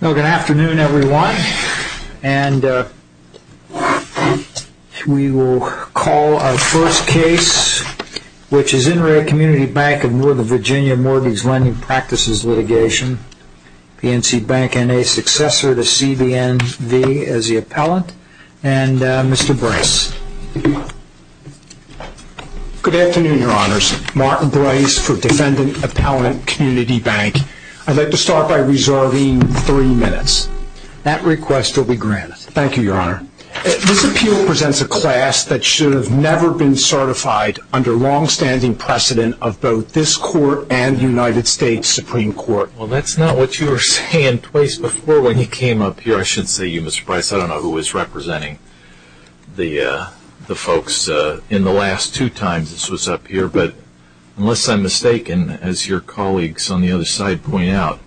Good afternoon, everyone. We will call our first case, which is In Re Community Bank of Northern Virginia Mortgage Lending Practices Litigation, PNC Bank and a successor to CBNV as the appellant and Mr. Bryce. Good afternoon, Your Honors. Martin Bryce for Defendant Appellant Community Bank. I'd like to start by reserving three minutes. That request will be granted. Thank you, Your Honor. This appeal presents a class that should have never been certified under longstanding precedent of both this court and the United States Supreme Court. Well, that's not what you were saying twice before when you came up here. I should say you, Mr. Bryce, I don't know who was representing the folks in the last two times this was up here, but unless I'm mistaken, as your colleagues on the other side point out,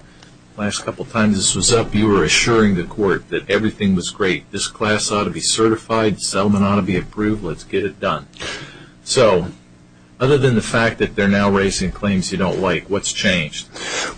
the last couple times this was up, you were assuring the court that everything was great. This class ought to be certified. The settlement ought to be approved. Let's get it done. So, other than the fact that they're now raising claims you don't like, what's changed?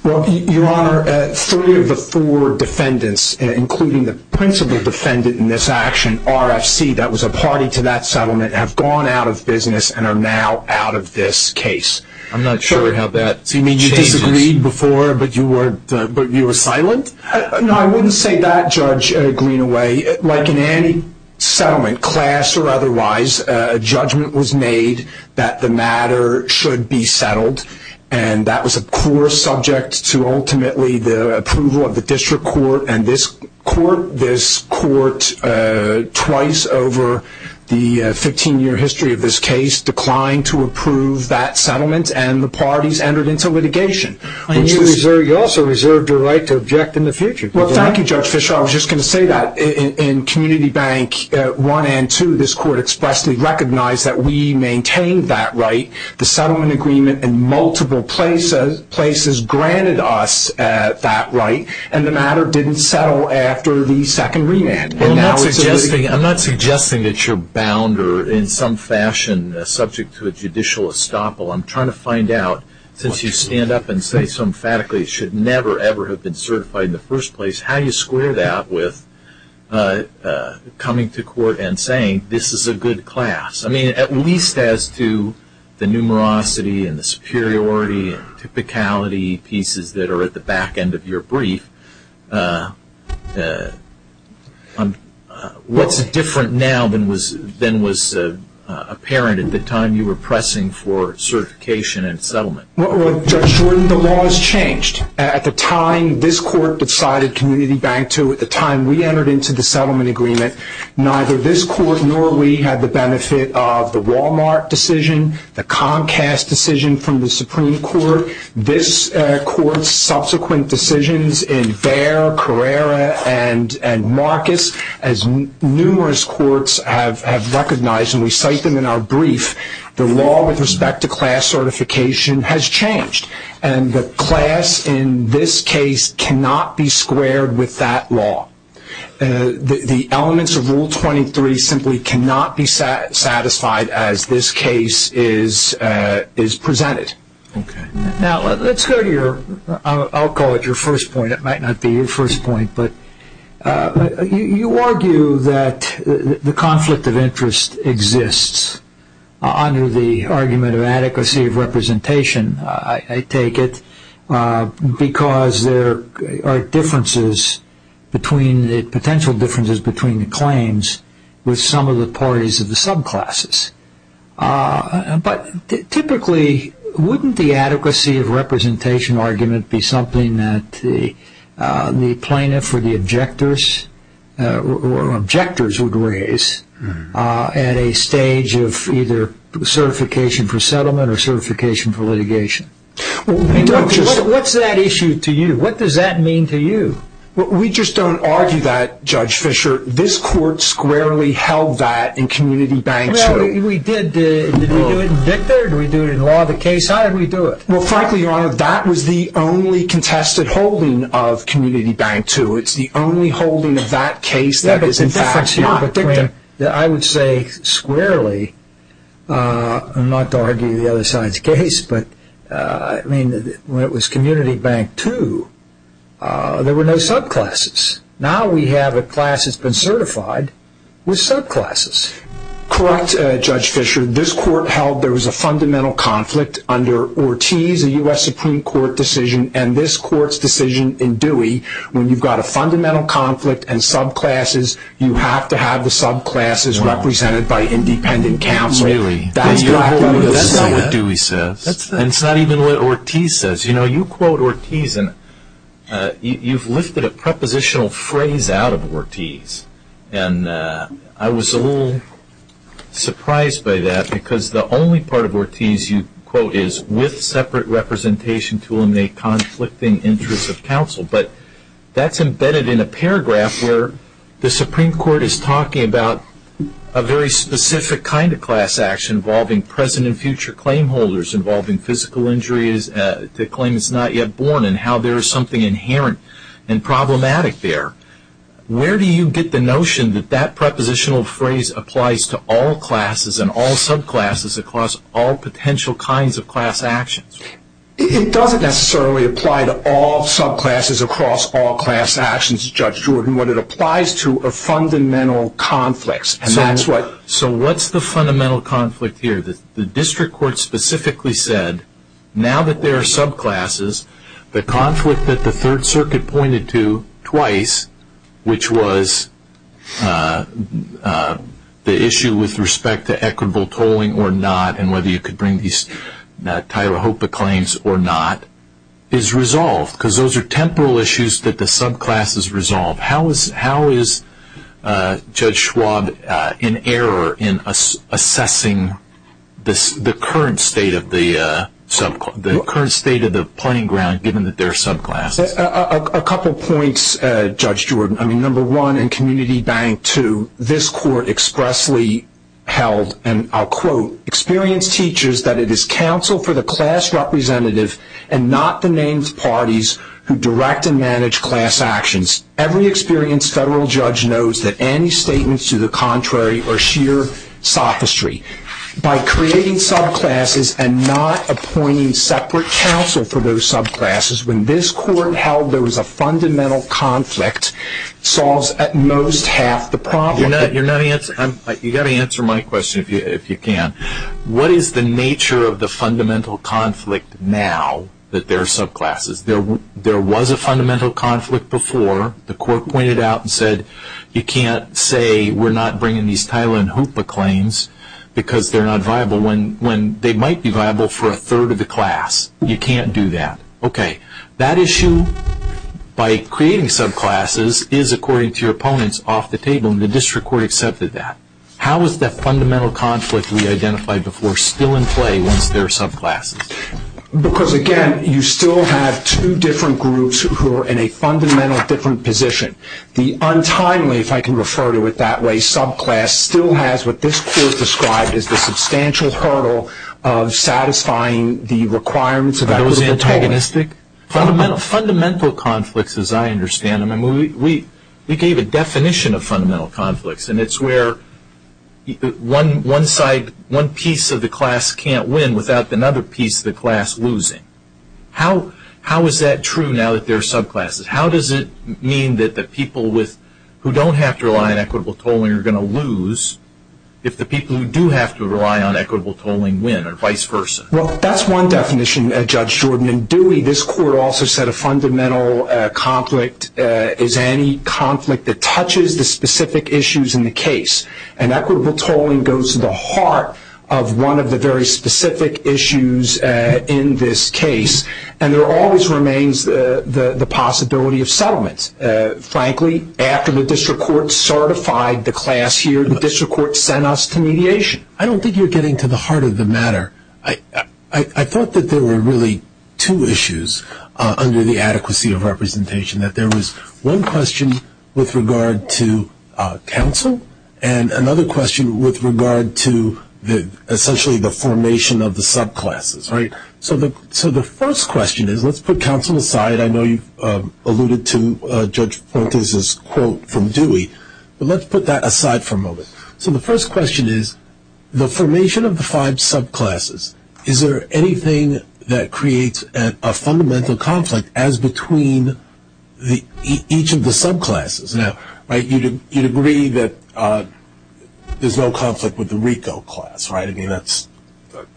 Well, Your Honor, three of the four defendants, including the principal defendant in this action, RFC, that was a party to that settlement, have gone out of business and are now out of this case. I'm not sure how that changes. You mean you disagreed before, but you were silent? No, I wouldn't say that, Judge Greenaway. Like in any settlement, class or otherwise, a judgment was made that the matter should be settled, and that was, of course, subject to ultimately the approval of the district court and this court. This court, twice over the 15-year history of this case, declined to approve that settlement, and the parties entered into litigation. You also reserved your right to object in the future. Well, thank you, Judge Fischer. I was just going to say that. In Community Bank 1 and 2, this court expressly recognized that we maintained that right. The settlement agreement in multiple places granted us that right, and the matter didn't settle after the second remand. I'm not suggesting that you're bound or in some fashion subject to a judicial estoppel. I'm trying to find out, since you stand up and say so emphatically it should never, ever have been certified in the first place, how you square that with coming to court and saying this is a good class. At least as to the numerosity and the superiority and typicality pieces that are at the back end of your brief, what's different now than was apparent at the time you were pressing for certification and settlement? Judge Jordan, the laws changed. At the time this court decided Community Bank 2, at the time this court, nor we had the benefit of the Wal-Mart decision, the Comcast decision from the Supreme Court. This court's subsequent decisions in Verre, Carrera, and Marcus, as numerous courts have recognized, and we cite them in our brief, the law with respect to class certification has changed, and the class in this case cannot be squared with that law. The elements of Rule 23 simply cannot be satisfied as this case is presented. Now let's go to your, I'll call it your first point, it might not be your first point, but you argue that the conflict of interest exists under the argument of adequacy of representation, I take it, because there are differences between, potential differences between the claims with some of the parties of the subclasses. But typically, wouldn't the adequacy of representation argument be something that the plaintiff or the objectors would raise at a stage of either certification for settlement or certification for litigation? What's that issue to you? What does that mean to you? We just don't argue that, Judge Fischer. This court squarely held that in Community Bank 2. We did. Did we do it in Victor? Did we do it in law of the case? How did we do it? Well frankly, Your Honor, that was the only contested holding of Community Bank 2. It's the only holding of that case that is in fact not Victor. I would say squarely, not to argue the other side's case, but I mean when it was Community Bank 2, there were no subclasses. Now we have a class that's been certified with subclasses. Correct, Judge Fischer. This court held there was a fundamental conflict under Ortiz, a U.S. Supreme Court decision, and this court's decision in Dewey, when you've got a fundamental conflict and subclasses, you have to have the subclasses represented by independent counsel. Really? That's not what Dewey says. And it's not even what Ortiz says. You know, you quote Ortiz and you've lifted a prepositional phrase out of Ortiz, and I was a little surprised by that because the only part of Ortiz you quote is, with separate representation to the Supreme Court is talking about a very specific kind of class action involving present and future claim holders, involving physical injuries, the claim is not yet born, and how there is something inherent and problematic there. Where do you get the notion that that prepositional phrase applies to all classes and all subclasses across all potential kinds of class actions? It doesn't necessarily apply to all subclasses across all class actions, Judge Jordan. What it applies to are fundamental conflicts. So what's the fundamental conflict here? The district court specifically said, now that there are subclasses, the conflict that the Third Circuit pointed to twice, which was the issue with respect to equitable tolling or not and whether you could bring these Tyler Hopa claims or not, is resolved because those are temporal issues that the subclasses resolve. How is Judge Schwab in error in assessing the current state of the pointing ground given that there are subclasses? A couple of points, Judge Jordan. Number one, in Community Bank 2, this court expressly held, and I'll quote, experienced teachers that it is counsel for the class representative and not the named parties who direct and manage class actions. Every experienced federal judge knows that any statements to the contrary are sheer sophistry. By creating subclasses and not appointing separate counsel for those subclasses, when this court held there was a fundamental conflict, solves at most half the problem. You've got to answer my question if you can. What is the nature of the fundamental conflict now that there are subclasses? There was a fundamental conflict before. The court pointed out and said, you can't say we're not bringing these Tyler Hopa claims because they're not viable when they might be viable for a third of the class. You can't do that. That issue by creating subclasses is, according to your opponents, off the table, and the district court accepted that. How is that fundamental conflict we identified before still in play once there are subclasses? Because again, you still have two different groups who are in a fundamentally different position. The untimely, if I can refer to it that way, subclass still has what this court described as the substantial hurdle of satisfying the requirements of those antagonists Fundamental conflicts, as I understand them. We gave a definition of fundamental conflicts and it's where one piece of the class can't win without another piece of the class losing. How is that true now that there are subclasses? How does it mean that the people who don't have to rely on equitable tolling are going to lose if the people who do have to rely on equitable tolling win, or vice versa? That's one definition, Judge Jordan. In Dewey, this court also said a fundamental conflict is any conflict that touches the specific issues in the case. Equitable tolling goes to the heart of one of the very specific issues in this case. There always remains the possibility of settlement. Frankly, after the district court certified the class here, the district court sent us to mediation. I don't think you're getting to the heart of the matter. I thought that there were really two issues under the adequacy of representation. There was one question with regard to counsel and another question with regard to essentially the formation of the subclasses. So the first question is, let's put counsel aside. I know you've alluded to Judge Fortes' quote from the court. The formation of the five subclasses, is there anything that creates a fundamental conflict as between each of the subclasses? Now, you'd agree that there's no conflict with the RICO class, right? I mean, that's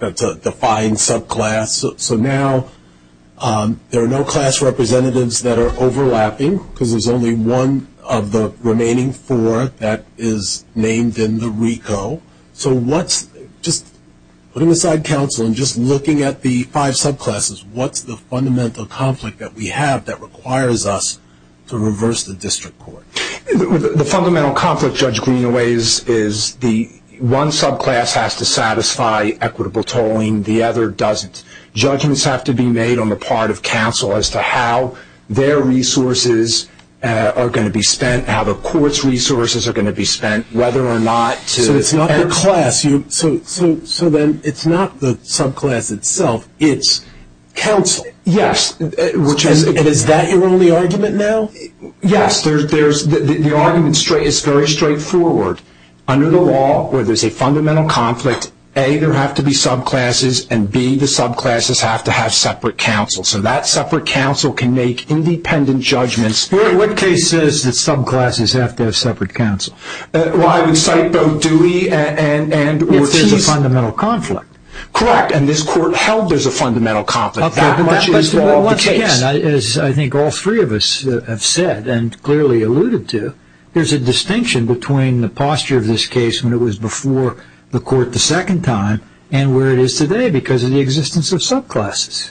a defined subclass. So now there are no class representatives that are overlapping because there's only one of the remaining four that is named in the RICO. So what's, just putting aside counsel and just looking at the five subclasses, what's the fundamental conflict that we have that requires us to reverse the district court? The fundamental conflict, Judge Greenaway, is the one subclass has to satisfy equitable tolling. The other doesn't. Judgments have to be made on the part of counsel as to how their resources are going to be spent, how the court's resources are going to be spent, whether or not to... So it's not the class. So then it's not the subclass itself, it's counsel. Yes. And is that your only argument now? Yes. The argument is very straightforward. Under the law, where there's a fundamental conflict, A, there have to be subclasses and B, the subclasses have to have separate counsel. So that separate counsel can make independent judgments. What case says that subclasses have to have separate counsel? Well, I would cite both Dewey and Ortiz. If there's a fundamental conflict. Correct. And this court held there's a fundamental conflict. That much is the case. Again, as I think all three of us have said and clearly alluded to, there's a distinction between the posture of this case when it was before the court the second time and where it is today because of the existence of subclasses.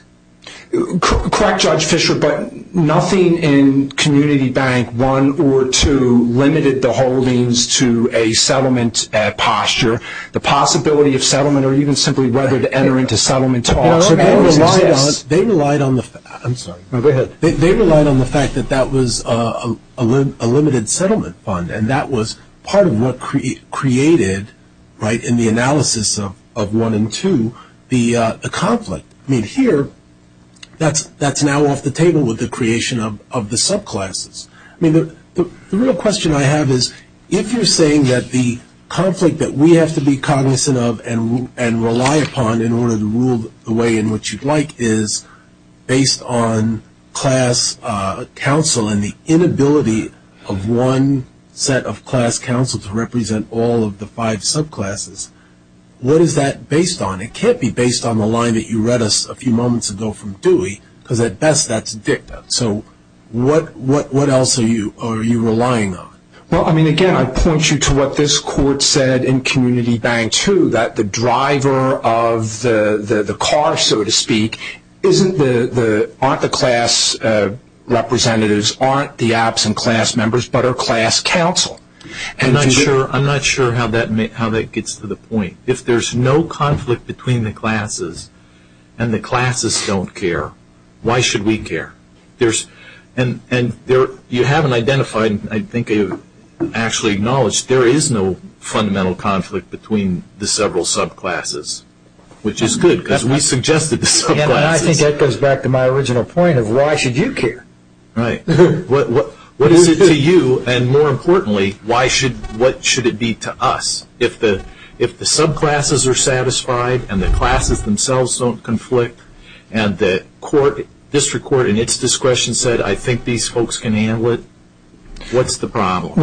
Correct, Judge Fischer, but nothing in Community Bank I or II limited the holdings to a settlement posture, the possibility of settlement, or even simply whether to enter into settlement talks. They relied on the fact that that was a limited settlement fund and that was part of what created, in the analysis of I and II, the conflict. Here, that's now off the table with the creation of the subclasses. The real question I have is, if you're saying that the conflict that we have to be cognizant of and rely upon in order to rule the way in which you'd like is based on class counsel and the inability of one set of class counsel to represent all of the five subclasses, what is that based on? It can't be based on the line that you read us a few moments ago from Dewey, because at best that's dicta. What else are you relying on? Again, I point you to what this court said in Community Bank II, that the driver of the car, so to speak, aren't the class representatives, aren't the absent class members, but are class counsel. I'm not sure how that gets to the point. If there's no conflict between the classes and the classes don't care, why should we care? You haven't identified, I think you've actually acknowledged there is no fundamental conflict between the several subclasses, which is good because we suggested the subclasses. I think that goes back to my original point of why should you care? Right. What is it to you, and more importantly, what should it be to us? If the subclasses are satisfied and the classes themselves don't conflict, and the district court in its discretion said I think these folks can handle it, what's the problem?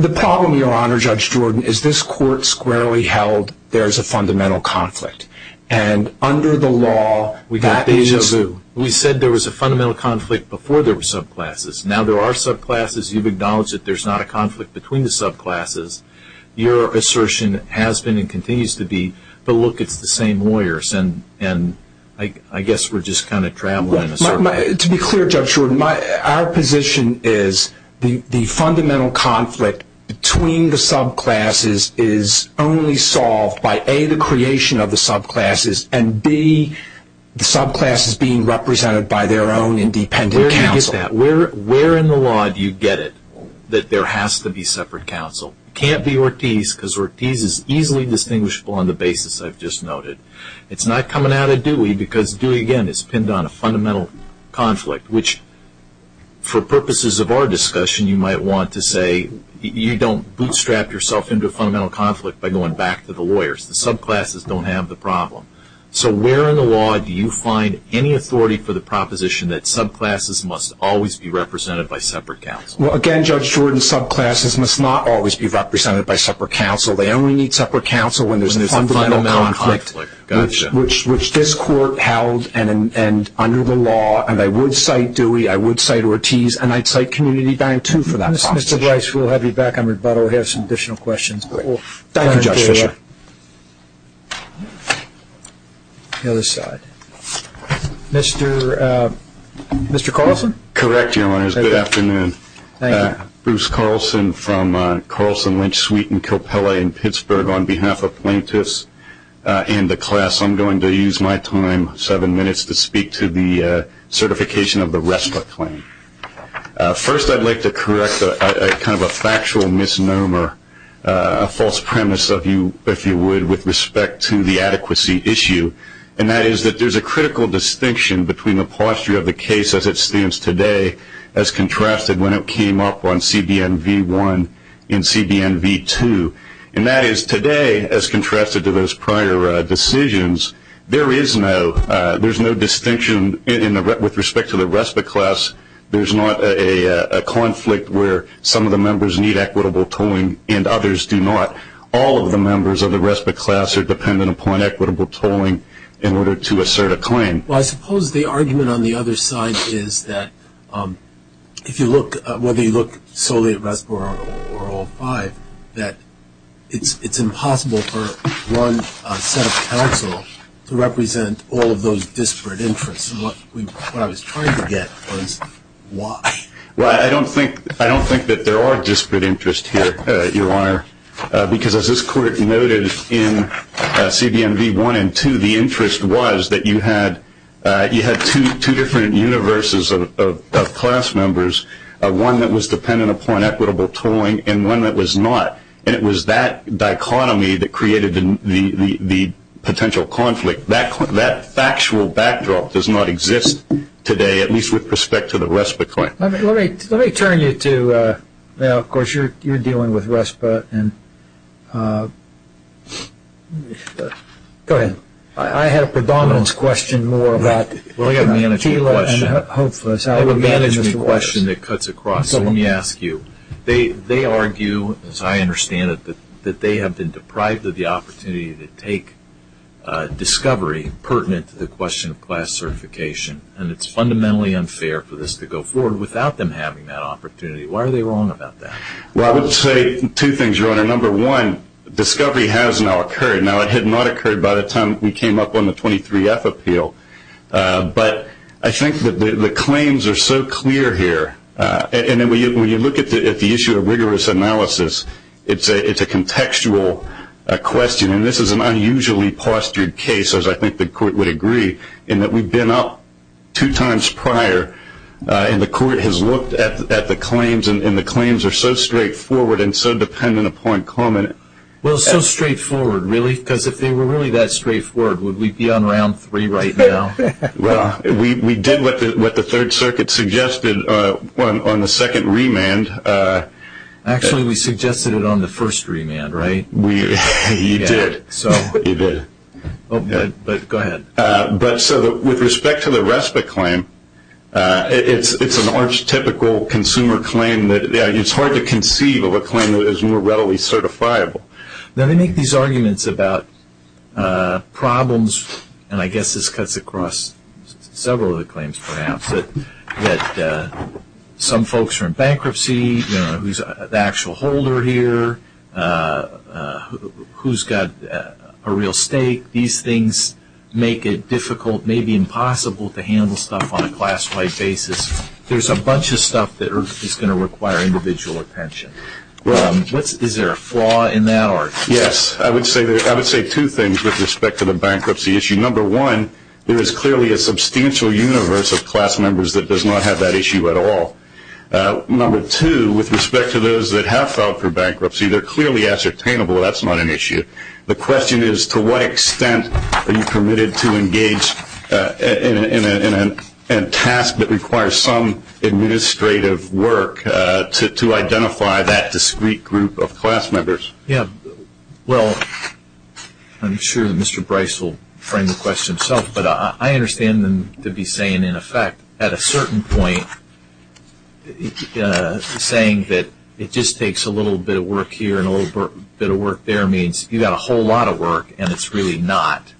The problem, Your Honor, Judge Jordan, is this court squarely held there's a fundamental conflict, and under the law, that is just... We said there was a fundamental conflict before there were subclasses. Now there are subclasses. You've acknowledged that there's not a conflict between the subclasses. Your assertion has been and continues to be, but look, it's the same lawyers, and I guess we're just kind of traveling in a circle. To be clear, Judge Jordan, our position is the fundamental conflict between the subclasses is only solved by A, the creation of the subclasses, and B, the subclasses being represented by their own independent counsel. Where do you get that? Where in the law do you get it that there has to be separate counsel? Can't be Ortiz because Ortiz is easily distinguishable on the basis I've just noted. It's not coming out of Dewey because Dewey, again, is pinned on a fundamental conflict, which for purposes of our discussion, you might want to say you don't bootstrap yourself into a fundamental conflict by going back to the lawyers. The subclasses don't have the problem. So where in the law do you find any authority for the proposition that subclasses must always be represented by separate counsel? Well, again, Judge Jordan, subclasses must not always be represented by separate counsel. They only need separate counsel when there's a fundamental conflict, which this court held and under the law, and I would cite Dewey, I would cite Ortiz, and I'd cite Community Dine, too, for that proposition. Mr. Bryce, we'll have you back on rebuttal. We have some additional questions. Thank you, Judge Fisher. The other side. Mr. Carlson? Correct, Your Honors. Good afternoon. Bruce Carlson from Carlson Lynch Suite in Coppella in Pittsburgh on behalf of plaintiffs and the class. I'm going to use my time, seven minutes, to speak to the certification of the rest of the claim. First I'd like to correct kind of a factual misnomer, a false premise, if you would, with respect to the adequacy issue, and that is that there's a critical distinction between the posture of the case as it stands today, as contrasted when it came up on CBN v. 1 and CBN v. 2, and that is today, as contrasted to those prior decisions, there is no distinction with respect to the respite class. There's not a conflict where some of the members need equitable tolling and others do not. All of the members of the respite class are dependent upon equitable tolling in order to assert a claim. Well, I suppose the argument on the other side is that if you look, whether you look solely at respite or all five, that it's impossible for one set of counsel to represent all of those disparate interests, and what I was trying to get was why. Well, I don't think that there are disparate interests here, Your Honor, because as this court noted in CBN v. 1 and 2, the interest was that you had two different universes of class members, one that was dependent upon equitable tolling and one that was not, and it was that dichotomy that created the potential conflict. That factual backdrop does not exist today, at least with respect to the respite claim. Let me turn you to, of course, you're dealing with respite. Go ahead. I had a predominance question more about Tila and Hopeless. I have a management question that cuts across. Let me ask you. They argue, as I understand it, that they have been deprived of the opportunity to take discovery pertinent to the question of class certification, and it's fundamentally unfair for this to go forward without them having that opportunity. Why are they wrong about that? Well, I would say two things, Your Honor. Number one, discovery has now occurred. Now, it had not occurred by the time we came up on the 23F appeal, but I think that the claims are so clear here, and when you look at the issue of rigorous analysis, it's a contextual question, and this is an unusually postured case, as I think the court would agree, in that we've been up two times prior, and the court has looked at the claims, and the claims are so straightforward and so dependent upon comment. Well, so straightforward, really? Because if they were really that straightforward, would we be on round three right now? Well, we did what the Third Circuit suggested on the second remand. Actually, we suggested it on the first remand, right? We did. You did. But go ahead. But so, with respect to the respite claim, it's an archetypical consumer claim that it's hard to conceive of a claim that is more readily certifiable. Now, they make these arguments about problems, and I guess this cuts across several of the claims, perhaps, that some folks are in bankruptcy, the actual holder here, who's got a real stake. These things make it difficult, maybe impossible, to handle stuff on a class-wide basis. There's a bunch of stuff that is going to require individual attention. Is there a flaw in that? Yes. I would say two things with respect to the bankruptcy issue. Number one, there is clearly a substantial universe of class members that does not have that issue at all. Number two, with respect to those that have filed for bankruptcy, they're clearly ascertainable that's not an issue. The question is, to what extent are you permitted to engage in a task that requires some administrative work to identify that discrete group of class members? Yeah. Well, I'm sure that Mr. Bryce will frame the question himself, but I understand them to be saying, in effect, at a certain point, saying that it just takes a little bit of work here and a little bit of work there means you've got a whole lot of work and it's really not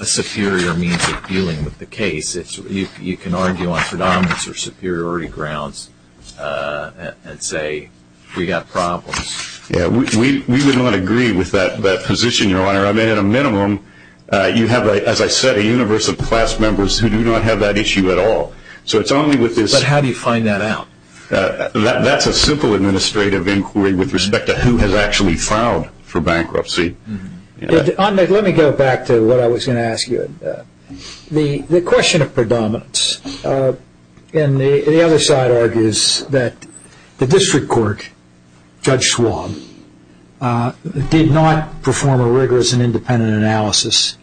a superior means of dealing with the case. You can argue on predominance or superiority grounds and say, we've got problems. Yeah. We would not agree with that position, Your Honor. I mean, at a minimum, you have, as I said, a universe of class members who do not have that issue at all. So it's only with this- But how do you find that out? That's a simple administrative inquiry with respect to who has actually filed for bankruptcy. Let me go back to what I was going to ask you. The question of predominance, and the other side argues that the district court, Judge Schwab, did not perform a rigorous and independent analysis,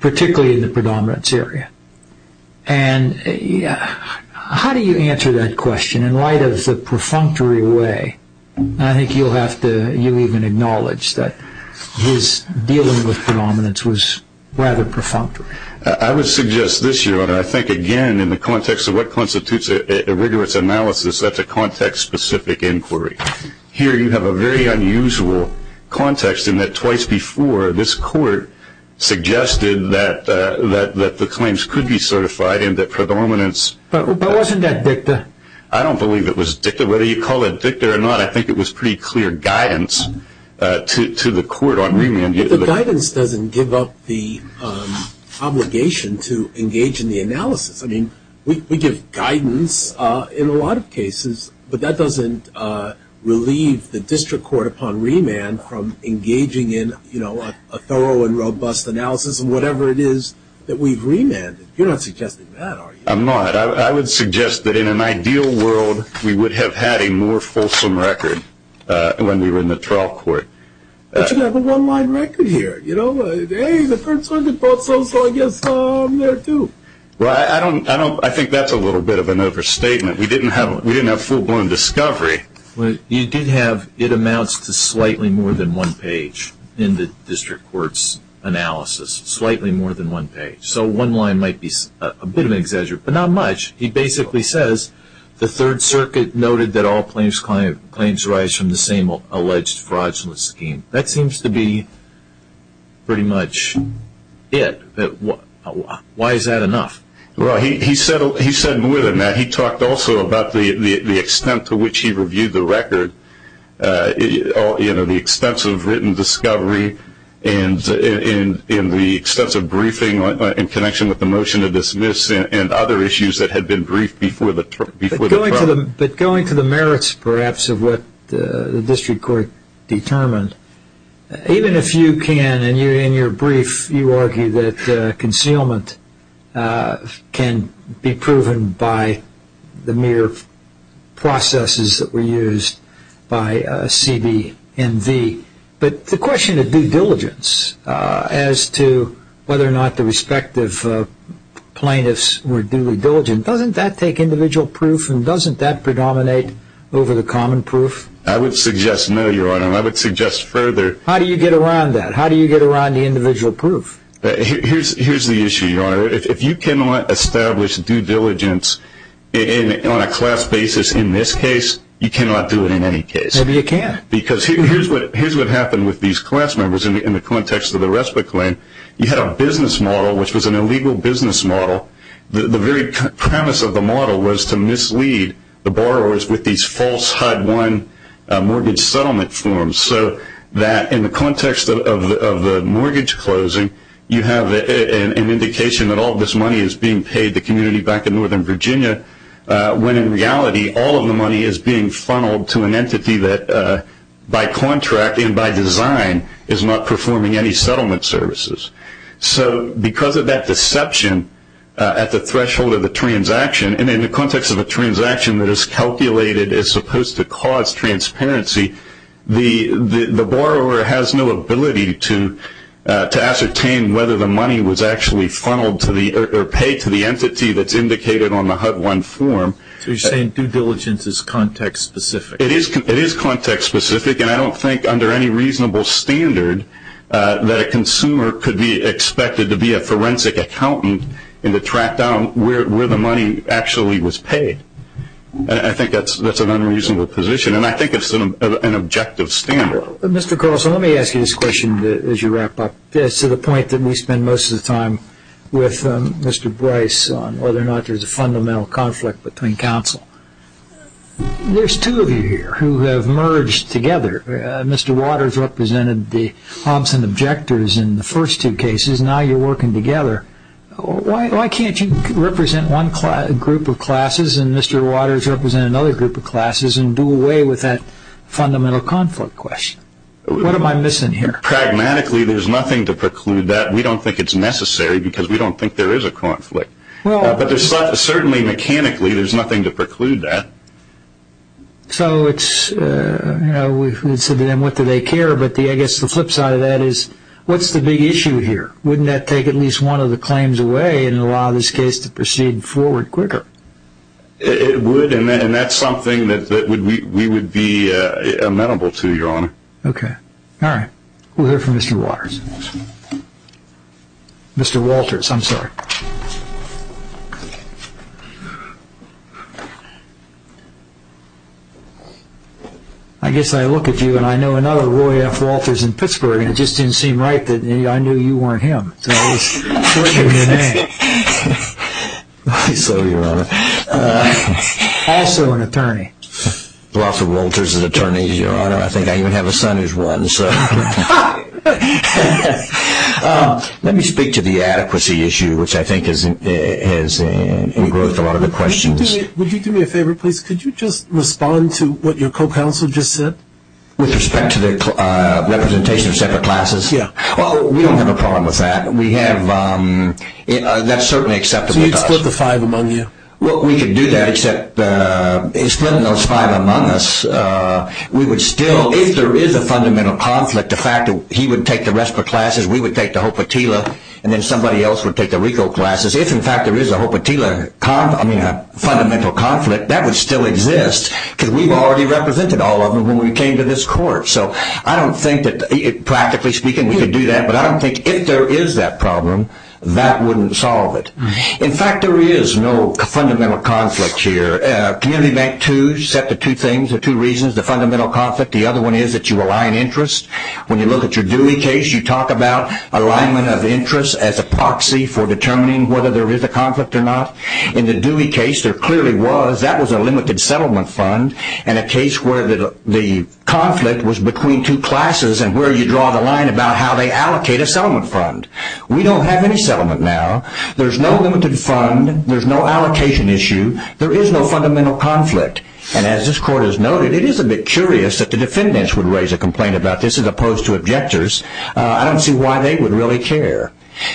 particularly in the predominance area. And how do you answer that his dealing with predominance was rather perfunctory? I would suggest this, Your Honor. I think, again, in the context of what constitutes a rigorous analysis, that's a context-specific inquiry. Here, you have a very unusual context in that twice before, this court suggested that the claims could be certified and that predominance- But wasn't that dicta? I don't believe it was dicta. Whether you call it dicta or not, I think it was pretty clear guidance to the court on remand. The guidance doesn't give up the obligation to engage in the analysis. I mean, we give guidance in a lot of cases, but that doesn't relieve the district court upon remand from engaging in a thorough and robust analysis in whatever it is that we've remanded. You're not suggesting that, are you? I'm not. I would suggest that, in an ideal world, we would have had a more fulsome record when we were in the trial court. But you have a one-line record here. You know, hey, the Third Circuit thought so, so I guess I'm there, too. Well, I think that's a little bit of an overstatement. We didn't have full-blown discovery. You did have it amounts to slightly more than one page in the district court's analysis, slightly more than one page. So one line might be a bit of an exaggeration, but not much. He basically says, the Third Circuit noted that all claims arise from the same alleged fraudulent scheme. That seems to be pretty much it. Why is that enough? Well, he said more than that. He talked also about the extent to which he reviewed the extensive written discovery and the extensive briefing in connection with the motion to dismiss and other issues that had been briefed before the trial. But going to the merits, perhaps, of what the district court determined, even if you can, and in your brief you argue that concealment can be proven by the mere processes that were in place, but the question of due diligence as to whether or not the respective plaintiffs were duly diligent, doesn't that take individual proof and doesn't that predominate over the common proof? I would suggest no, Your Honor, and I would suggest further... How do you get around that? How do you get around the individual proof? Here's the issue, Your Honor. If you cannot establish due diligence on a class basis in this case, you cannot do it in any case. Maybe you can. Because here's what happened with these class members in the context of the respite claim. You had a business model, which was an illegal business model. The very premise of the model was to mislead the borrowers with these false HUD-1 mortgage settlement forms so that in the context of the mortgage closing, you have an indication that all this money is being paid to the community back in Northern Virginia, when in reality all of the money is being by contract and by design, is not performing any settlement services. So because of that deception at the threshold of the transaction, and in the context of a transaction that is calculated as supposed to cause transparency, the borrower has no ability to ascertain whether the money was actually funneled or paid to the entity that's indicated on the HUD-1 form. So you're saying due diligence is context specific? It is context specific, and I don't think under any reasonable standard that a consumer could be expected to be a forensic accountant and to track down where the money actually was paid. I think that's an unreasonable position, and I think it's an objective standard. Mr. Carlson, let me ask you this question as you wrap up. To the point that we spend most of the time with Mr. Bryce on whether or not there's a fundamental conflict between counsel, there's two of you here who have merged together. Mr. Waters represented the Thompson Objectors in the first two cases, now you're working together. Why can't you represent one group of classes and Mr. Waters represent another group of classes and do away with that fundamental conflict question? What am I missing here? Pragmatically, there's nothing to preclude that. We don't think it's necessary because we don't think there is a conflict. But certainly mechanically, there's nothing to preclude that. So it's, you know, we've said to them what do they care, but I guess the flip side of that is what's the big issue here? Wouldn't that take at least one of the claims away and allow this case to proceed forward quicker? It would, and that's something that we would be amenable to, Your Honor. Okay. All right. We'll hear from Mr. Waters. Mr. Walters, I'm sorry. I guess I look at you and I know another Roy F. Walters in Pittsburgh, and it just didn't seem right that I knew you weren't him, so I was shortening your name. So, Your Honor. Also an attorney. Roy F. Walters is an attorney, Your Honor. I think I even have a son who's one, so. Let me speak to the adequacy issue, which I think has engrossed a lot of the questions. Would you do me a favor, please? Could you just respond to what your co-counsel just said? With respect to the representation of separate classes? Yeah. Well, we don't have a problem with that. We have, that's certainly acceptable to us. So you'd split the five among you? Well, we could do that, except in splitting those five among us, we would still, if there is a fundamental conflict, the fact that he would take the RESPA classes, we would take the HOPA-TILA, and then somebody else would take the RICO classes. If, in fact, there is a HOPA-TILA, I mean, a fundamental conflict, that would still exist, because we've already represented all of them when we came to this court. So I don't think that, practically speaking, we could do that, but I don't think if there is that problem, that wouldn't solve it. In fact, there is no fundamental conflict here. Community Bank 2 set the two things, the two reasons, the fundamental conflict, the other one is that you align interest. When you look at your Dewey case, you talk about alignment of interest as a proxy for determining whether there is a conflict or not. In the Dewey case, there clearly was, that was a limited settlement fund, and a case where the conflict was between two classes, and where you draw the line about how they allocate a settlement fund. We don't have any settlement now, there's no limited fund, there's no allocation issue, there is no fundamental conflict, and as this court has noted, it is a bit curious that the defendants would raise a complaint about this as opposed to objectors. I don't see why they would really care.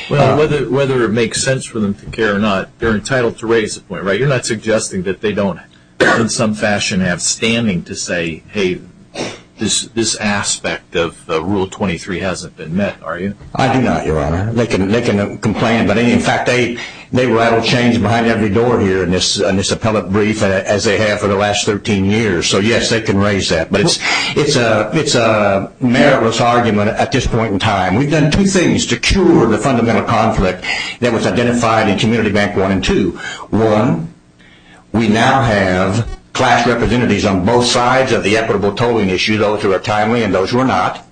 Well, whether it makes sense for them to care or not, they're entitled to raise a point, right? You're not suggesting that they don't, in some fashion, have standing to say, hey, this aspect of Rule 23 hasn't been met, are you? I do not, Your Honor. They can complain, but in fact, they rattle chains behind every door here in this appellate brief, as they have for the last 13 years, so yes, they can raise that. But it's a meritless argument at this point in time. We've done two things to cure the fundamental conflict that was identified in Community Bank 1 and 2. One, we now have class representatives on both sides of the equitable tolling issue, those who are timely and those who are not.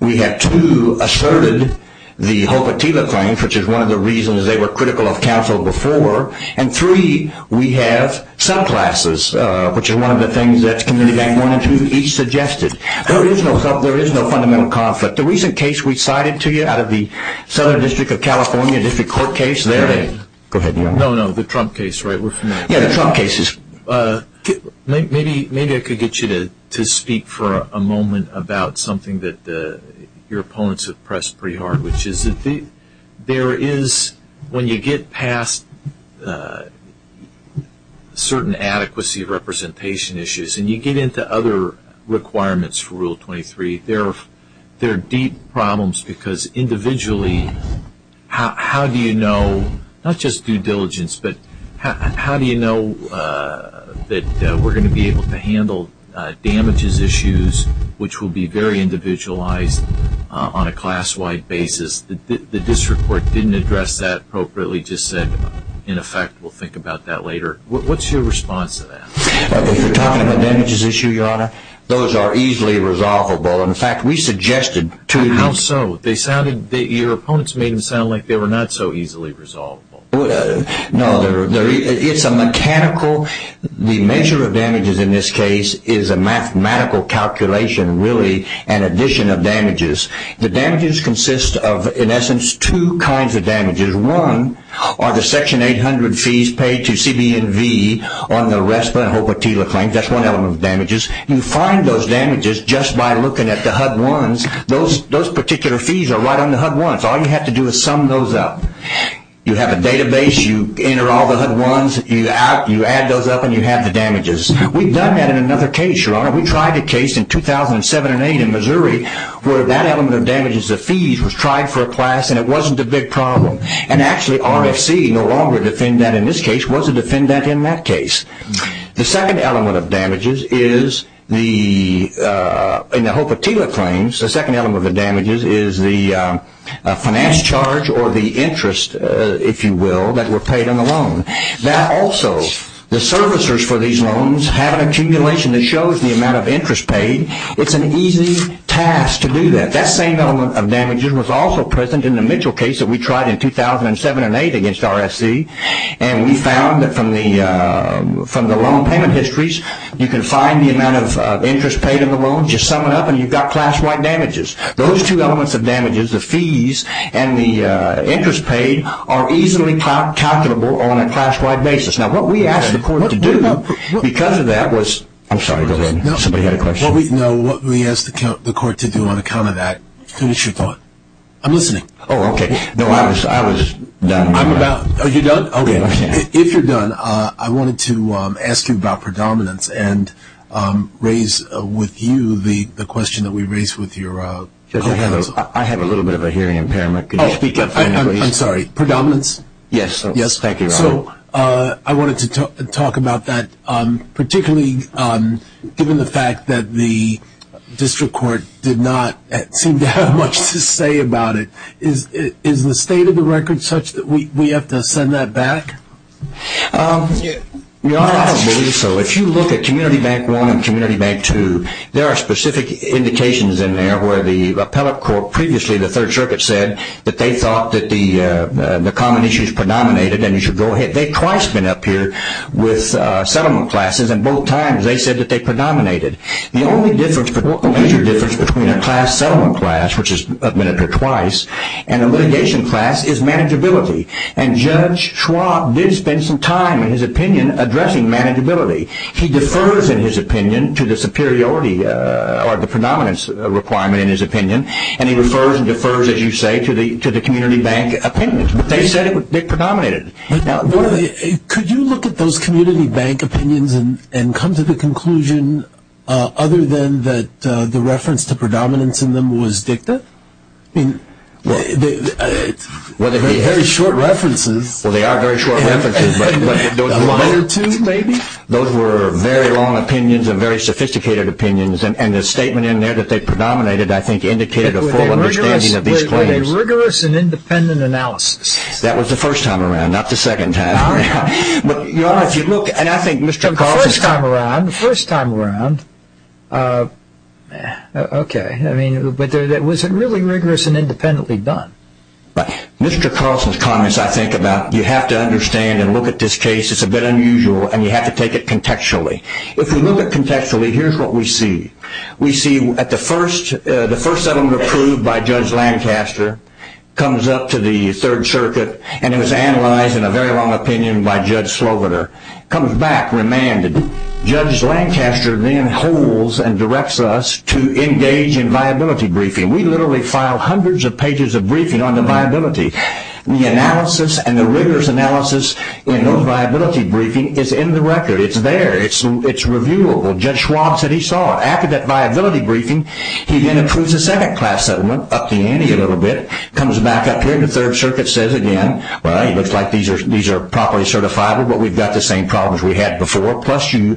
We have, two, asserted the Hope Attila claims, which is one of the reasons they were critical of counsel before, and three, we have subclasses, which is one of the things that Community Bank 1 and 2 each suggested. There is no fundamental conflict. The recent case we cited to you out of the Southern District of California District Court case, there is. Go ahead, Your Honor. No, no, the Trump case, right? We're familiar. Yeah, the Trump cases. Maybe I could get you to speak for a moment about something that your opponents have pressed pretty hard, which is that there is, when you get past certain adequacy representation issues, and you get into other requirements for Rule 23, there are deep problems, because individually, how do you know, not just due diligence, but how do you know that we're going to be able to handle damages issues, which will be very individualized on a class-wide basis? The District Court didn't address that appropriately, just said, in effect, we'll think about that later. What's your response to that? If you're talking about damages issues, Your Honor, those are easily resolvable. In fact, we suggested to you... No, it's a mechanical... the measure of damages in this case is a mathematical calculation, really, an addition of damages. The damages consist of, in essence, two kinds of damages. One are the Section 800 fees paid to CB&V on the RESPA and HOPA-TILA claims. That's one element of damages. You find those damages just by looking at the HUD-1s. Those particular fees are right on the HUD-1s. All you have to do is sum those up. You have a database. You enter all the HUD-1s. You add those up, and you have the damages. We've done that in another case, Your Honor. We tried a case in 2007 and 2008 in Missouri where that element of damages, the fees, was tried for a class, and it wasn't a big problem. Actually, RFC no longer defended that in this case. It was a defendant in that case. The second element of damages is the... in the HOPA-TILA claims, the second element of the damages is the finance charge or the interest, if you will, that were paid on the loan. That also, the servicers for these loans have an accumulation that shows the amount of interest paid. It's an easy task to do that. That same element of damages was also present in the Mitchell case that we tried in 2007 and 2008 against RFC, and we found that from the loan payment histories, you can find the amount of interest paid on the loan. You sum it up, and you've got class-wide damages. Those two elements of damages, the fees and the interest paid, are easily calculable on a class-wide basis. Now, what we asked the court to do because of that was... I'm sorry. Go ahead. Somebody had a question. No, what we asked the court to do on account of that... Finish your thought. I'm listening. Oh, okay. No, I was done. I'm about... Oh, you're done? Okay. If you're done, I wanted to ask you about predominance and raise with you the question that we raised with your counsel. I have a little bit of a hearing impairment. Could you speak up for me, please? I'm sorry. Predominance? Yes. Thank you, Robert. So I wanted to talk about that, particularly given the fact that the district court did not seem to have much to say about it. Is the state of the record such that we have to send that back? Your Honor, I don't believe so. If you look at Community Bank 1 and Community Bank 2, there are specific indications in there where the appellate court previously, the Third Circuit said that they thought that the common issues predominated, and you should go ahead. They've twice been up here with settlement classes, and both times they said that they predominated. The only major difference between a class settlement class, which has been up here twice, and a litigation class is manageability. And Judge Schwab did spend some time in his opinion addressing manageability. He defers in his opinion to the superiority or the predominance requirement in his opinion, and he refers and defers, as you say, to the Community Bank opinions. But they said it predominated. Could you look at those Community Bank opinions and come to the conclusion, other than that the reference to predominance in them was dicta? I mean, they're very short references. Well, they are very short references. A line or two, maybe? Those were very long opinions and very sophisticated opinions, and the statement in there that they predominated, I think, indicated a full understanding of these claims. It was a rigorous and independent analysis. That was the first time around, not the second time around. Your Honor, if you look, and I think Mr. Carlson's... The first time around. The first time around. Okay. I mean, but was it really rigorous and independently done? Mr. Carlson's comments, I think, about you have to understand and look at this case, it's a bit unusual, and you have to take it contextually. If you look at it contextually, here's what we see. We see at the first, the first settlement approved by Judge Lancaster comes up to the Third Circuit and it was analyzed in a very long opinion by Judge Sloviter. Comes back, remanded. Judge Lancaster then holds and directs us to engage in viability briefing. We literally file hundreds of pages of briefing on the viability. The analysis and the rigorous analysis in those viability briefings is in the record. It's there. It's reviewable. Judge Schwab said he saw it. After that viability briefing, he then approves a second class settlement, up the ante a little bit. Comes back up here to Third Circuit, says again, well, it looks like these are properly certifiable, but we've got the same problems we had before. Plus, you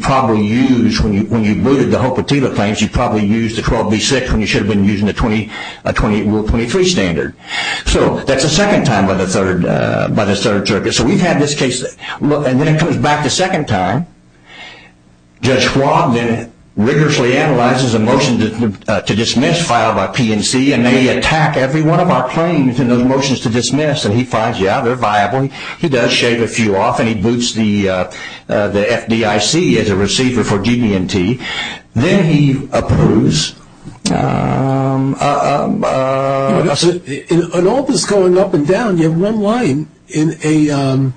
probably used, when you booted the Hopatila claims, you probably used the 12B6 when you should have been using the Rule 23 standard. So that's the second time by the Third Circuit. So we've had this case. And then it comes back the second time. Judge Schwab then rigorously analyzes a motion to dismiss filed by PNC, and they attack every one of our claims in those motions to dismiss, and he finds, yeah, they're viable. He does shave a few off, and he boots the FDIC as a receiver for GD&T. Then he approves. In all this going up and down, you have one line in a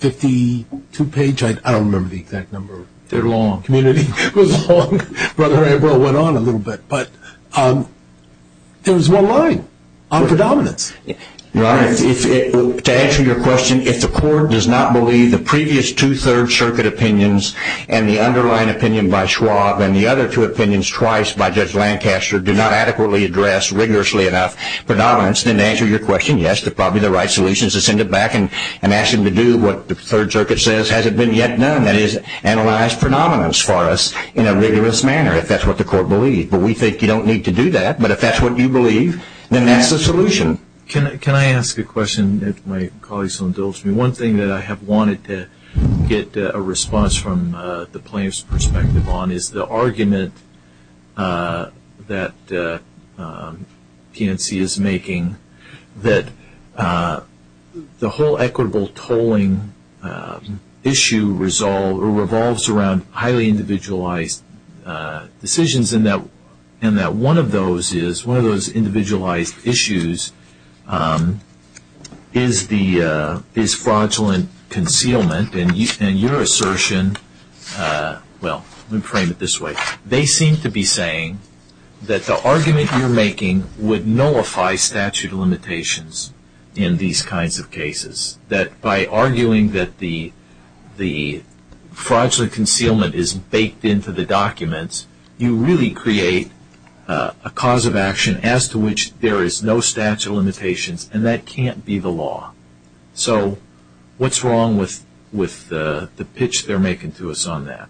52-page, I don't remember the exact number. They're long. Community. It was long. Brother Abel went on a little bit. But there was one line on predominance. Your Honor, to answer your question, if the court does not believe the previous two Third Circuit opinions and the underlying opinion by Schwab and the other two opinions twice by Judge Lancaster do not adequately address rigorously enough predominance, then to answer your question, yes, they're probably the right solutions. To send it back and ask them to do what the Third Circuit says hasn't been yet done, that is, analyze predominance for us in a rigorous manner if that's what the court believes. But we think you don't need to do that. But if that's what you believe, then that's the solution. Can I ask a question that my colleagues will indulge me? One thing that I have wanted to get a response from the plaintiff's perspective on is the argument that PNC is making that the whole equitable tolling issue revolves around highly individualized decisions and that one of those individualized issues is fraudulent concealment. And your assertion, well, let me frame it this way. They seem to be saying that the argument you're making would nullify statute of limitations in these kinds of cases. That by arguing that the fraudulent concealment is baked into the documents, you really create a cause of action as to which there is no statute of limitations, and that can't be the law. So what's wrong with the pitch they're making to us on that?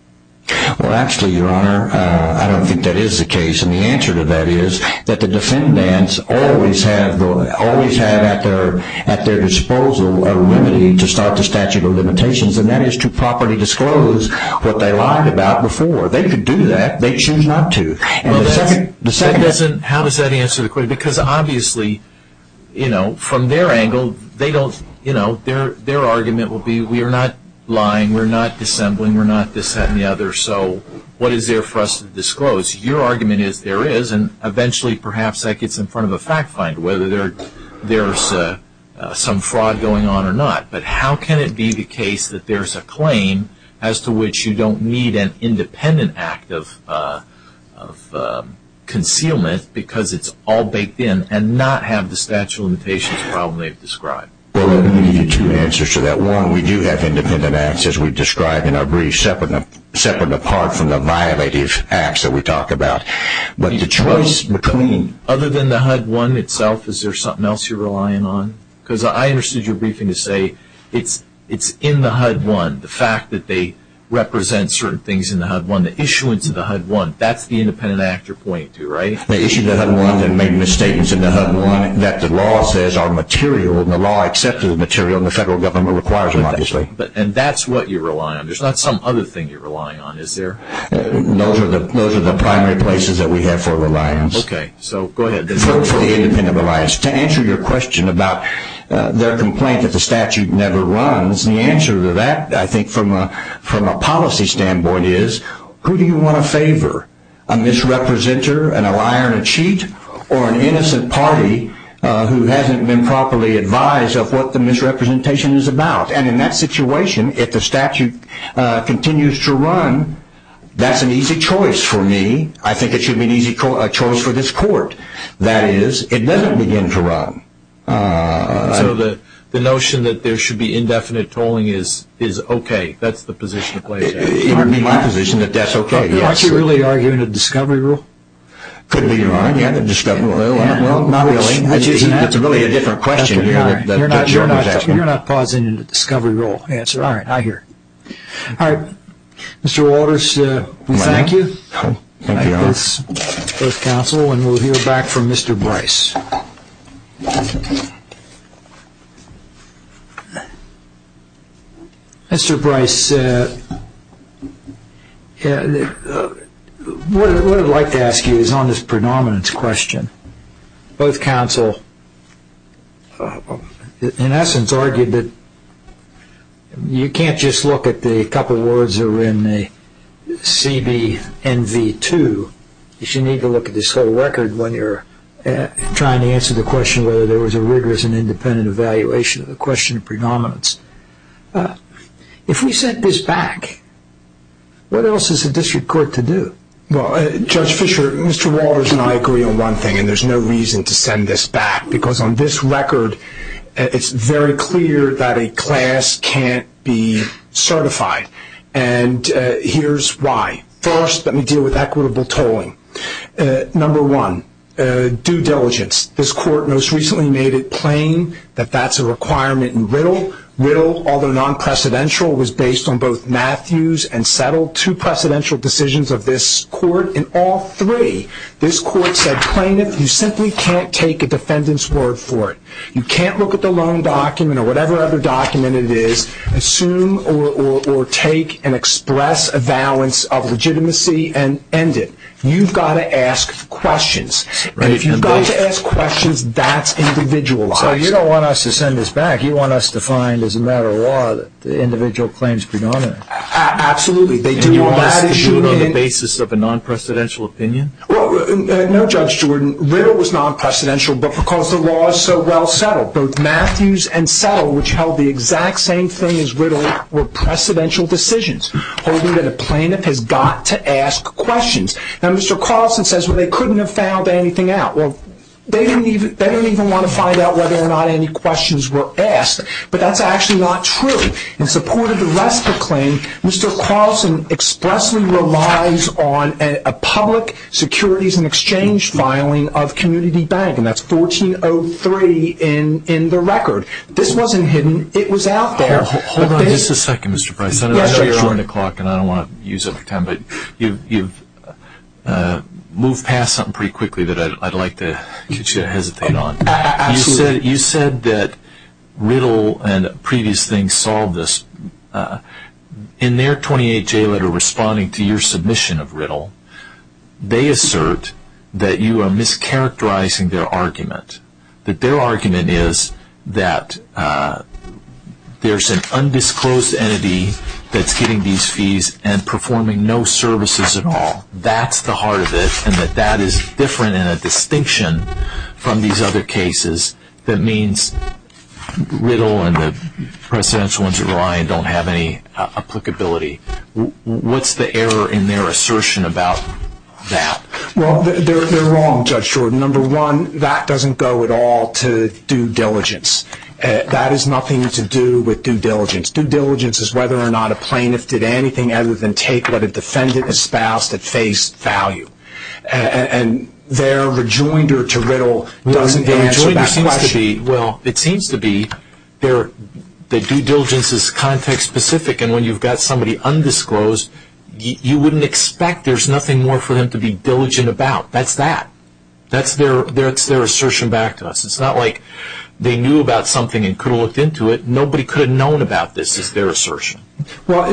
Well, actually, Your Honor, I don't think that is the case. And the answer to that is that the defendants always have at their disposal a remedy to start the statute of limitations, and that is to properly disclose what they lied about before. They could do that. They choose not to. How does that answer the question? Because obviously, from their angle, their argument will be we are not lying, we are not dissembling, we are not dissenting the other. So what is there for us to disclose? Your argument is there is, and eventually perhaps that gets in front of a fact finder, whether there is some fraud going on or not. But how can it be the case that there is a claim as to which you don't need an independent act of concealment because it's all baked in and not have the statute of limitations problem they've described? Well, let me give you two answers to that. One, we do have independent acts, as we've described in our brief, separate and apart from the violative acts that we talk about. But the choice between... Other than the HUD-1 itself, is there something else you're relying on? Because I understood your briefing to say it's in the HUD-1, the fact that they represent certain things in the HUD-1, the issuance of the HUD-1, that's the independent act you're pointing to, right? They issued the HUD-1 and made misstatements in the HUD-1 that the law says are material, and the law accepted the material, and the federal government requires them, obviously. And that's what you're relying on. There's not some other thing you're relying on, is there? Those are the primary places that we have for reliance. Okay, so go ahead. To answer your question about their complaint that the statute never runs, the answer to that, I think, from a policy standpoint is, who do you want to favor, a misrepresenter, a liar and a cheat, or an innocent party who hasn't been properly advised of what the misrepresentation is about? And in that situation, if the statute continues to run, that's an easy choice for me. I think it should be an easy choice for this court. That is, it doesn't begin to run. So the notion that there should be indefinite tolling is okay? That's the position that plays out? It would be my position that that's okay, yes. Aren't you really arguing a discovery rule? Could be. Well, not really. It's really a different question here. You're not pausing the discovery rule answer. All right, I hear it. All right, Mr. Waters, we thank you. Thank you, Alex. That's both counsel, and we'll hear back from Mr. Bryce. Mr. Bryce, what I'd like to ask you is on this predominance question. Both counsel, in essence, argued that you can't just look at the couple words that were in the CB NV2. You should need to look at this whole record when you're trying to answer the question whether there was a rigorous and independent evaluation of the question of predominance. If we sent this back, what else is the district court to do? Well, Judge Fischer, Mr. Waters and I agree on one thing, and there's no reason to send this back because on this record, it's very clear that a class can't be certified, and here's why. First, let me deal with equitable tolling. Number one, due diligence. This court most recently made it plain that that's a requirement in Riddle. Riddle, although non-precedential, was based on both Matthews and Settle, two precedential decisions of this court. In all three, this court said plain that you simply can't take a defendant's word for it. You can't look at the loan document or whatever other document it is, assume or take and express a valance of legitimacy and end it. You've got to ask questions, and if you've got to ask questions, that's individualized. So you don't want us to send this back. You want us to find as a matter of law that the individual claims predominance. Absolutely. And you want us to do it on the basis of a non-precedential opinion? No, Judge Jordan. Riddle was non-precedential because the law is so well settled. Both Matthews and Settle, which held the exact same thing as Riddle, were precedential decisions, holding that a plaintiff has got to ask questions. Now, Mr. Carlson says they couldn't have found anything out. Well, they didn't even want to find out whether or not any questions were asked, but that's actually not true. In support of the rest of the claim, Mr. Carlson expressly relies on a public securities and exchange filing of Community Bank, and that's 1403 in the record. This wasn't hidden. It was out there. Hold on just a second, Mr. Price. I know you're on the clock and I don't want to use up your time, but you've moved past something pretty quickly that I'd like to get you to hesitate on. Absolutely. You said that Riddle and previous things solved this. In their 28-J letter responding to your submission of Riddle, they assert that you are mischaracterizing their argument, that their argument is that there's an undisclosed entity that's getting these fees and performing no services at all. That's the heart of it, and that that is different in a distinction from these other cases that means Riddle and the precedential ones that are lying don't have any applicability. What's the error in their assertion about that? Well, they're wrong, Judge Jordan. Number one, that doesn't go at all to due diligence. That has nothing to do with due diligence. Due diligence is whether or not a plaintiff did anything other than take what a defendant espoused at face value, and their rejoinder to Riddle doesn't answer that question. Well, it seems to be that due diligence is context-specific, and when you've got somebody undisclosed, you wouldn't expect there's nothing more for them to be diligent about. That's that. That's their assertion back to us. It's not like they knew about something and could have looked into it. Nobody could have known about this is their assertion. Well,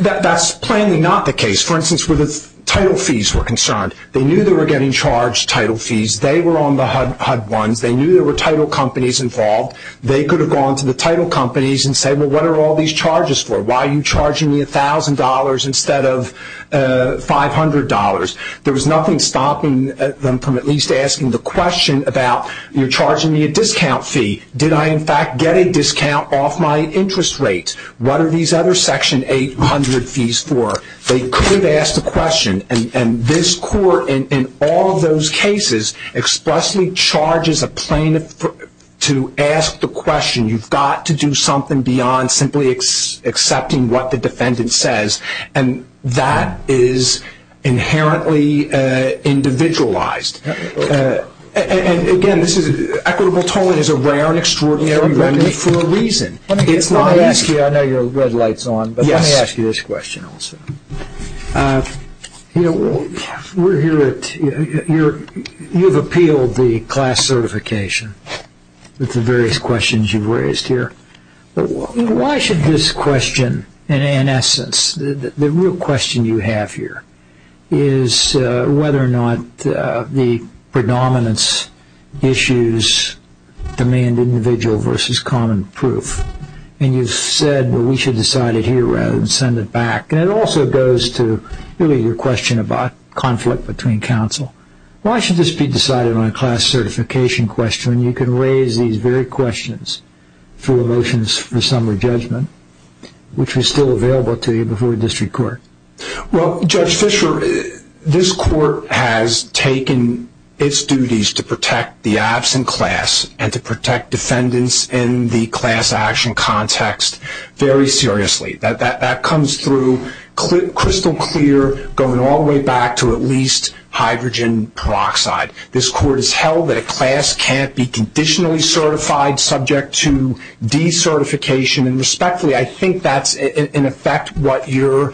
that's plainly not the case. For instance, where the title fees were concerned. They knew they were getting charged title fees. They were on the HUD ones. They knew there were title companies involved. They could have gone to the title companies and said, well, what are all these charges for? Why are you charging me $1,000 instead of $500? There was nothing stopping them from at least asking the question about, you're charging me a discount fee. Did I, in fact, get a discount off my interest rate? What are these other section 800 fees for? They could have asked the question, and this court, in all of those cases, expressly charges a plaintiff to ask the question. You've got to do something beyond simply accepting what the defendant says, and that is inherently individualized. And, again, equitable tolling is a rare and extraordinary remedy for a reason. It's not easy. I know your red light is on, but let me ask you this question also. You've appealed the class certification with the various questions you've raised here. Why should this question, in essence, the real question you have here, is whether or not the predominance issues demand individual versus common proof. And you've said, well, we should decide it here rather than send it back. And it also goes to, really, your question about conflict between counsel. Why should this be decided on a class certification question when you can raise these very questions through a motion for summary judgment, which was still available to you before district court? Well, Judge Fisher, this court has taken its duties to protect the absent class and to protect defendants in the class action context very seriously. That comes through crystal clear, going all the way back to at least hydrogen peroxide. This court has held that a class can't be conditionally certified subject to decertification. And, respectfully, I think that's, in effect, what you're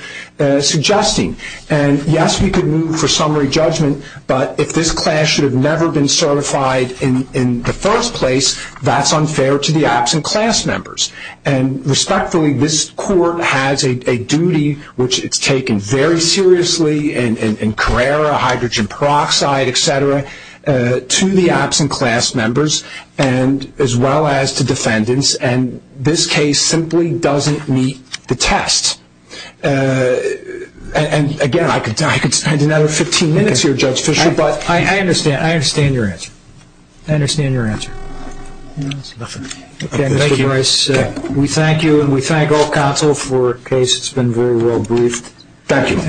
suggesting. And, yes, we could move for summary judgment, but if this class should have never been certified in the first place, that's unfair to the absent class members. And, respectfully, this court has a duty, which it's taken very seriously in Carrera, hydrogen peroxide, et cetera, to the absent class members as well as to defendants. And this case simply doesn't meet the test. And, again, I could spend another 15 minutes here, Judge Fisher. I understand. I understand your answer. I understand your answer. Nothing. Okay. Thank you. We thank you, and we thank all counsel for a case that's been very well briefed. Thank you.